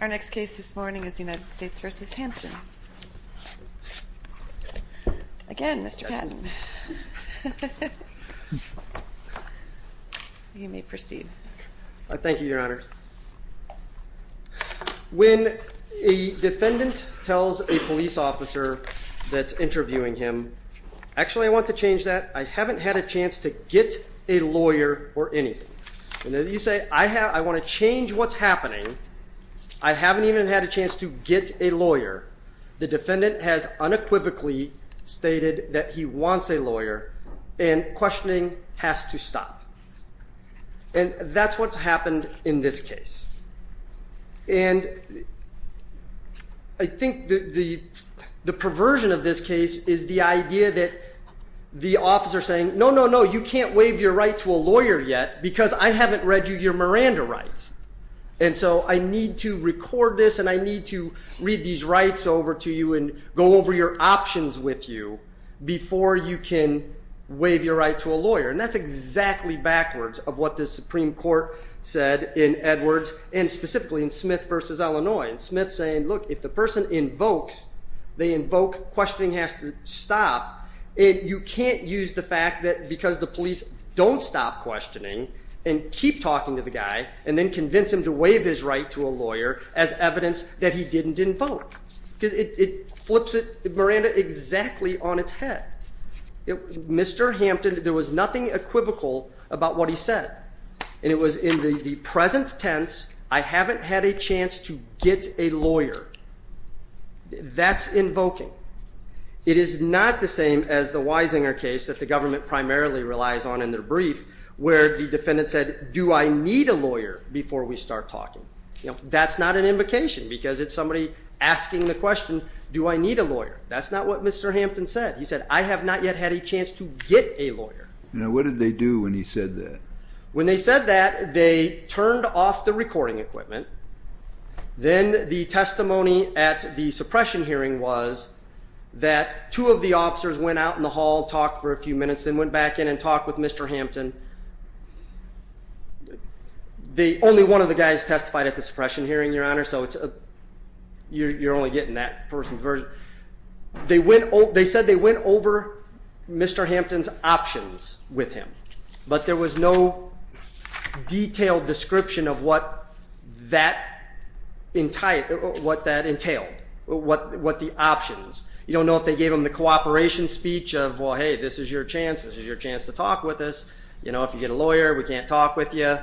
Our next case this morning is United States v. Hampton. Again, Mr. Patton. You may proceed. Thank you, Your Honor. When a defendant tells a police officer that's interviewing him, actually, I want to change that. I haven't had a chance to get a lawyer or anything. You say, I want to change what's happening. I haven't even had a chance to get a lawyer. The defendant has unequivocally stated that he wants a lawyer and questioning has to stop. And that's what's happened in this case. And I think the perversion of this case is the idea that the officer is saying, no, no, no, you can't waive your right to a lawyer yet because I haven't read your Miranda rights. And so I need to record this and I need to read these rights over to you and go over your options with you before you can waive your right to a lawyer. And that's exactly backwards of what the Supreme Court said in Edwards and specifically in Smith v. Illinois. And Smith's saying, look, if the person invokes, they invoke questioning has to stop. And you can't use the fact that because the police don't stop questioning and keep talking to the guy and then convince him to waive his right to a lawyer as evidence that he didn't invoke. It flips it, Miranda, exactly on its head. Mr. Hampton, there was nothing equivocal about what he said. And it was in the present tense, I haven't had a chance to get a lawyer. That's invoking. It is not the same as the Weisinger case that the government primarily relies on in their brief where the defendant said, do I need a lawyer before we start talking? That's not an invocation because it's somebody asking the question, do I need a lawyer? That's not what Mr. Hampton said. He said, I have not yet had a chance to get a lawyer. Now, what did they do when he said that? When they said that, they turned off the recording equipment. Then the testimony at the suppression hearing was that two of the officers went out in the hall, talked for a few minutes and went back in and talked with Mr. Hampton. Only one of the guys testified at the suppression hearing, Your Honor, so you're only getting that person's version. They said they went over Mr. Hampton's options with him, but there was no detailed description of what that entailed, what the options. You don't know if they gave him the cooperation speech of, well, hey, this is your chance, this is your chance to talk with us. If you get a lawyer, we can't talk with you.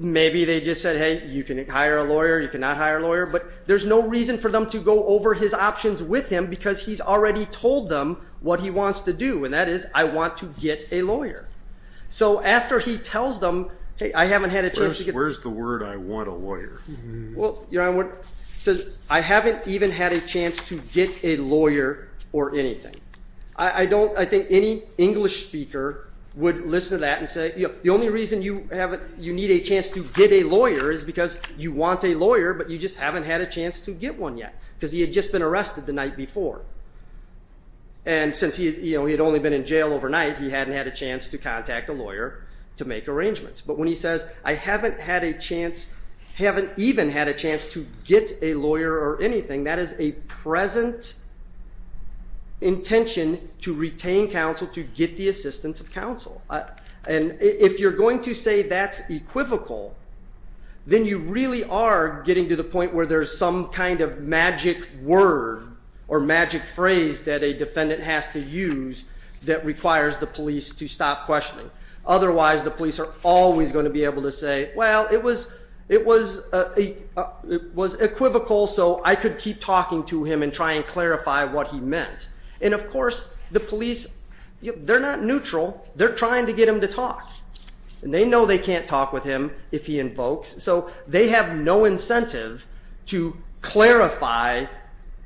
Maybe they just said, hey, you can hire a lawyer, you cannot hire a lawyer, but there's no reason for them to go over his options with him because he's already told them what he wants to do, and that is, I want to get a lawyer. So after he tells them, hey, I haven't had a chance to get a lawyer, I haven't even had a chance to get a lawyer or anything. I think any English speaker would listen to that and say the only reason you need a chance to get a lawyer is because you want a lawyer, but you just haven't had a chance to get one yet because he had just been arrested the night before. And since he had only been in jail overnight, he hadn't had a chance to contact a lawyer to make arrangements. But when he says, I haven't had a chance, haven't even had a chance to get a lawyer or anything, that is a present intention to retain counsel to get the assistance of counsel. And if you're going to say that's equivocal, then you really are getting to the point where there's some kind of magic word or magic phrase that a defendant has to use that requires the police to stop questioning. Otherwise, the police are always going to be able to say, well, it was equivocal, so I could keep talking to him and try and clarify what he meant. And of course, the police, they're not neutral. They're trying to get him to talk. And they know they can't talk with him if he invokes, so they have no incentive to clarify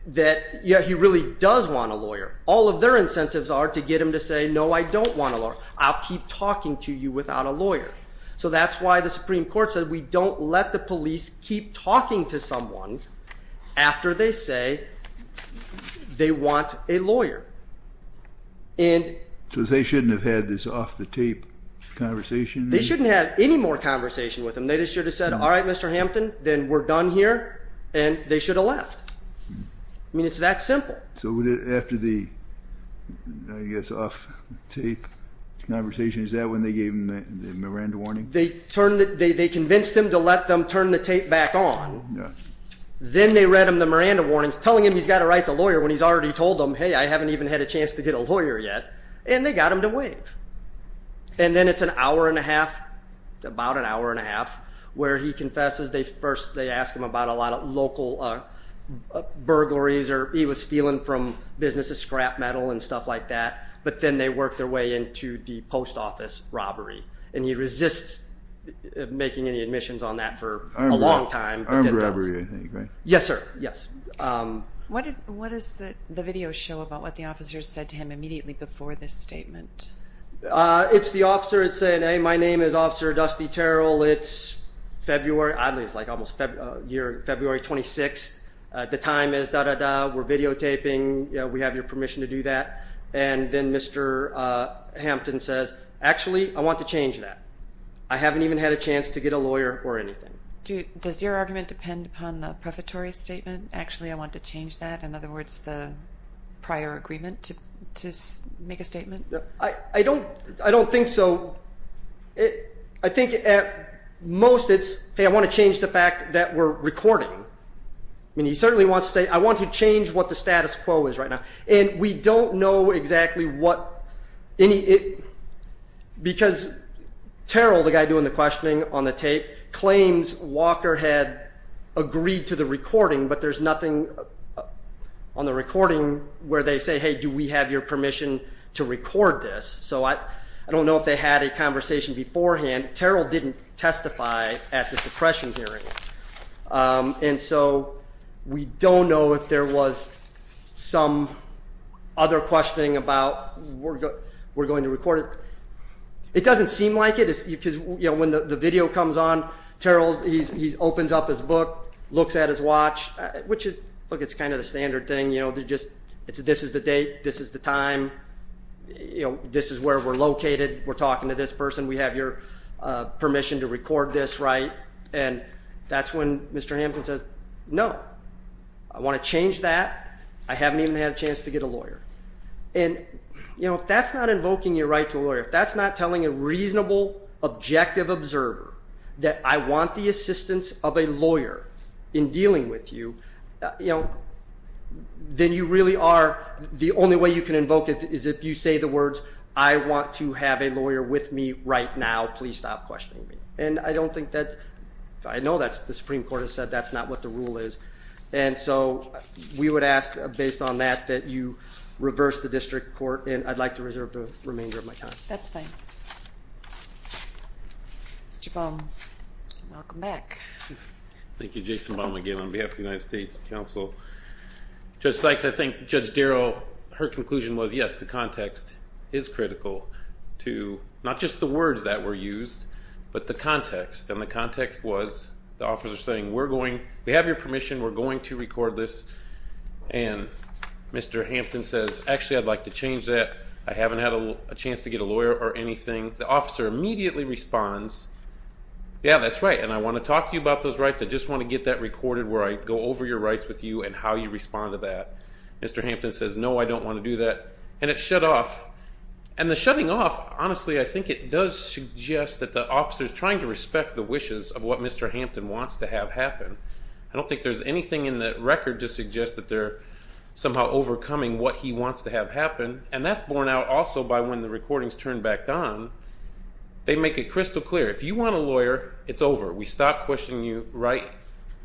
that he really does want a lawyer. All of their incentives are to get him to say, no, I don't want a lawyer. I'll keep talking to you without a lawyer. So that's why the Supreme Court said we don't let the police keep talking to someone after they say they want a lawyer. So they shouldn't have had this off-the-tape conversation? They shouldn't have had any more conversation with him. They just should have said, all right, Mr. Hampton, then we're done here, and they should have left. I mean, it's that simple. So after the, I guess, off-the-tape conversation, is that when they gave him the Miranda warning? They convinced him to let them turn the tape back on. Then they read him the Miranda warnings, telling him he's got to write the lawyer when he's already told them, hey, I haven't even had a chance to get a lawyer yet, and they got him to waive. And then it's an hour and a half, about an hour and a half, where he confesses. They ask him about a lot of local burglaries, or he was stealing from businesses, scrap metal and stuff like that. But then they work their way into the post office robbery, and he resists making any admissions on that for a long time. Armed robbery, I think, right? Yes, sir. Yes. What does the video show about what the officer said to him immediately before this statement? It's the officer saying, hey, my name is Officer Dusty Terrell. It's February, oddly, it's like almost February 26th. The time is da-da-da. We're videotaping. We have your permission to do that. And then Mr. Hampton says, actually, I want to change that. I haven't even had a chance to get a lawyer or anything. Does your argument depend upon the prefatory statement, actually I want to change that? In other words, the prior agreement to make a statement? I don't think so. I think at most it's, hey, I want to change the fact that we're recording. I mean, he certainly wants to say, I want to change what the status quo is right now. And we don't know exactly what any – because Terrell, the guy doing the questioning on the tape, claims Walker had agreed to the recording, but there's nothing on the recording where they say, hey, do we have your permission to record this? So I don't know if they had a conversation beforehand. Terrell didn't testify at the suppression hearing. And so we don't know if there was some other questioning about we're going to record it. It doesn't seem like it because when the video comes on, Terrell, he opens up his book, looks at his watch, which is kind of the standard thing. This is the date. This is the time. This is where we're located. We're talking to this person. We have your permission to record this, right? And that's when Mr. Hampton says, no, I want to change that. I haven't even had a chance to get a lawyer. And if that's not invoking your right to a lawyer, if that's not telling a reasonable, objective observer that I want the assistance of a lawyer in dealing with you, then you really are – the only way you can invoke it is if you say the words, I want to have a lawyer with me right now. Please stop questioning me. And I don't think that – I know that the Supreme Court has said that's not what the rule is. And so we would ask, based on that, that you reverse the district court, and I'd like to reserve the remainder of my time. That's fine. Mr. Baum, welcome back. Thank you. Jason Baum again on behalf of the United States Council. Judge Sykes, I think Judge Darrell, her conclusion was, yes, the context is critical to not just the words that were used, but the context. And the context was the officer saying, we're going – we have your permission, we're going to record this. And Mr. Hampton says, actually, I'd like to change that. I haven't had a chance to get a lawyer or anything. The officer immediately responds, yeah, that's right, and I want to talk to you about those rights. I just want to get that recorded where I go over your rights with you and how you respond to that. Mr. Hampton says, no, I don't want to do that. And it's shut off. And the shutting off, honestly, I think it does suggest that the officer is trying to respect the wishes of what Mr. Hampton wants to have happen. I don't think there's anything in the record to suggest that they're somehow overcoming what he wants to have happen. And that's borne out also by when the recordings turn back on, they make it crystal clear. If you want a lawyer, it's over. We stop questioning you right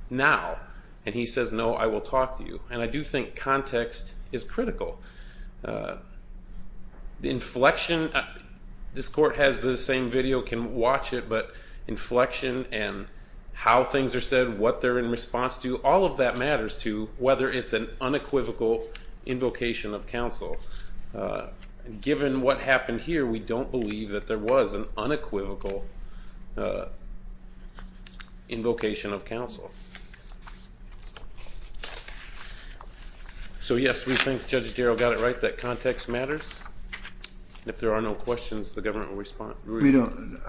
now. And he says, no, I will talk to you. And I do think context is critical. The inflection, this court has the same video, can watch it, but inflection and how things are said, what they're in response to, all of that matters to whether it's an unequivocal invocation of counsel. Given what happened here, we don't believe that there was an unequivocal invocation of counsel. So, yes, we think Judge Darrell got it right, that context matters. If there are no questions, the government will respond. We don't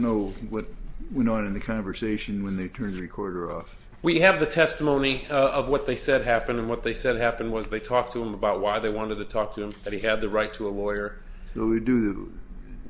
know what went on in the conversation when they turned the recorder off. We have the testimony of what they said happened. And what they said happened was they talked to him about why they wanted to talk to him, that he had the right to a lawyer.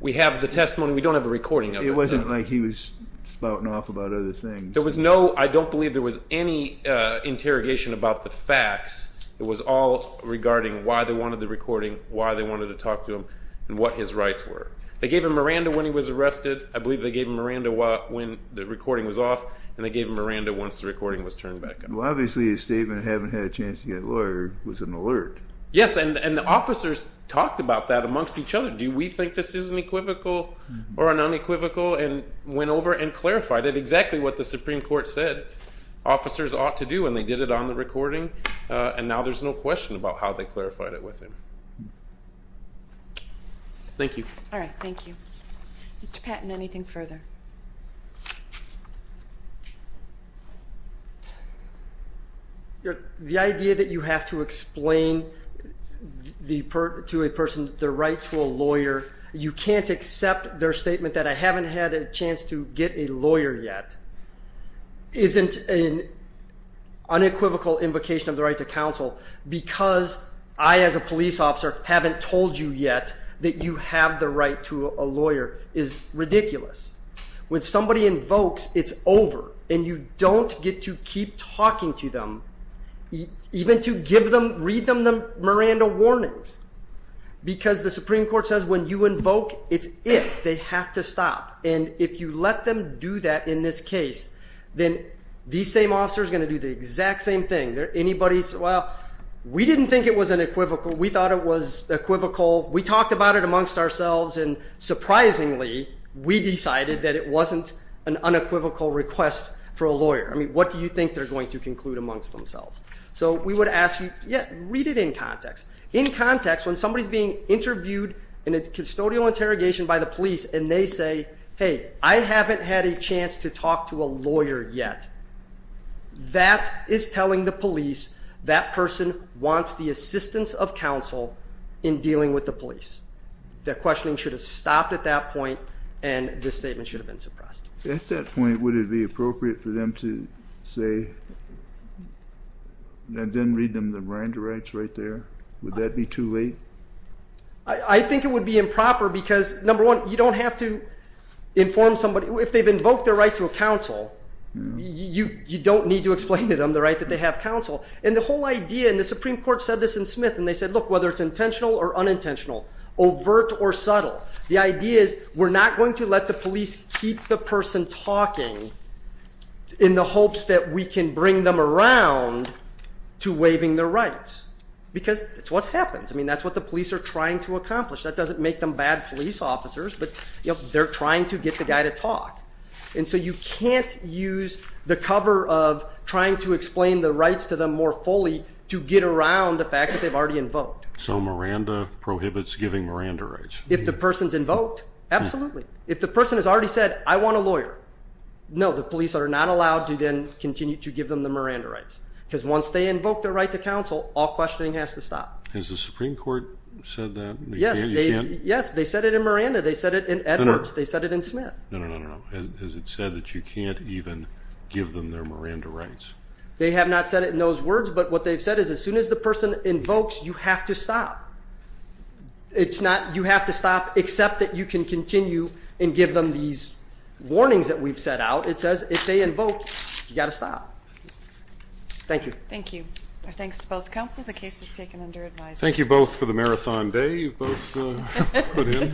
We have the testimony. We don't have a recording of it. It wasn't like he was spouting off about other things. There was no, I don't believe there was any interrogation about the facts. It was all regarding why they wanted the recording, why they wanted to talk to him, and what his rights were. They gave him Miranda when he was arrested. I believe they gave him Miranda when the recording was off, and they gave him Miranda once the recording was turned back on. Well, obviously his statement, having had a chance to get a lawyer, was an alert. Yes, and the officers talked about that amongst each other. Do we think this is an equivocal or an unequivocal? And went over and clarified it, exactly what the Supreme Court said officers ought to do, and they did it on the recording. And now there's no question about how they clarified it with him. Thank you. All right, thank you. Mr. Patton, anything further? The idea that you have to explain to a person their right to a lawyer, you can't accept their statement that I haven't had a chance to get a lawyer yet, isn't an unequivocal invocation of the right to counsel, because I, as a police officer, haven't told you yet that you have the right to a lawyer, is ridiculous. When somebody invokes, it's over, and you don't get to keep talking to them, even to give them, read them the Miranda warnings. Because the Supreme Court says when you invoke, it's if, they have to stop. And if you let them do that in this case, then these same officers are going to do the exact same thing. Anybody, well, we didn't think it was unequivocal. We thought it was equivocal. We talked about it amongst ourselves, and surprisingly, we decided that it wasn't an unequivocal request for a lawyer. I mean, what do you think they're going to conclude amongst themselves? So we would ask you, yeah, read it in context. In context, when somebody's being interviewed in a custodial interrogation by the police, and they say, hey, I haven't had a chance to talk to a lawyer yet, that is telling the police that person wants the assistance of counsel in dealing with the police. Their questioning should have stopped at that point, and this statement should have been suppressed. At that point, would it be appropriate for them to say, then read them the Miranda rights right there? Would that be too late? I think it would be improper because, number one, you don't have to inform somebody. If they've invoked their right to a counsel, you don't need to explain to them the right that they have counsel. And the whole idea, and the Supreme Court said this in Smith, and they said, look, whether it's intentional or unintentional, overt or subtle, the idea is we're not going to let the police keep the person talking in the hopes that we can bring them around to waiving their rights because that's what happens. I mean, that's what the police are trying to accomplish. That doesn't make them bad police officers, but they're trying to get the guy to talk. And so you can't use the cover of trying to explain the rights to them more fully to get around the fact that they've already invoked. So Miranda prohibits giving Miranda rights? If the person's invoked, absolutely. If the person has already said, I want a lawyer, no, the police are not allowed to then continue to give them the Miranda rights because once they invoke their right to counsel, all questioning has to stop. Has the Supreme Court said that? Yes, they said it in Miranda. They said it in Edwards. They said it in Smith. No, no, no, no, no. Has it said that you can't even give them their Miranda rights? They have not said it in those words, but what they've said is as soon as the person invokes, you have to stop. It's not you have to stop except that you can continue and give them these warnings that we've set out. It says if they invoke, you've got to stop. Thank you. Thank you. Our thanks to both counsel. Thank you both for the marathon day you've both put in.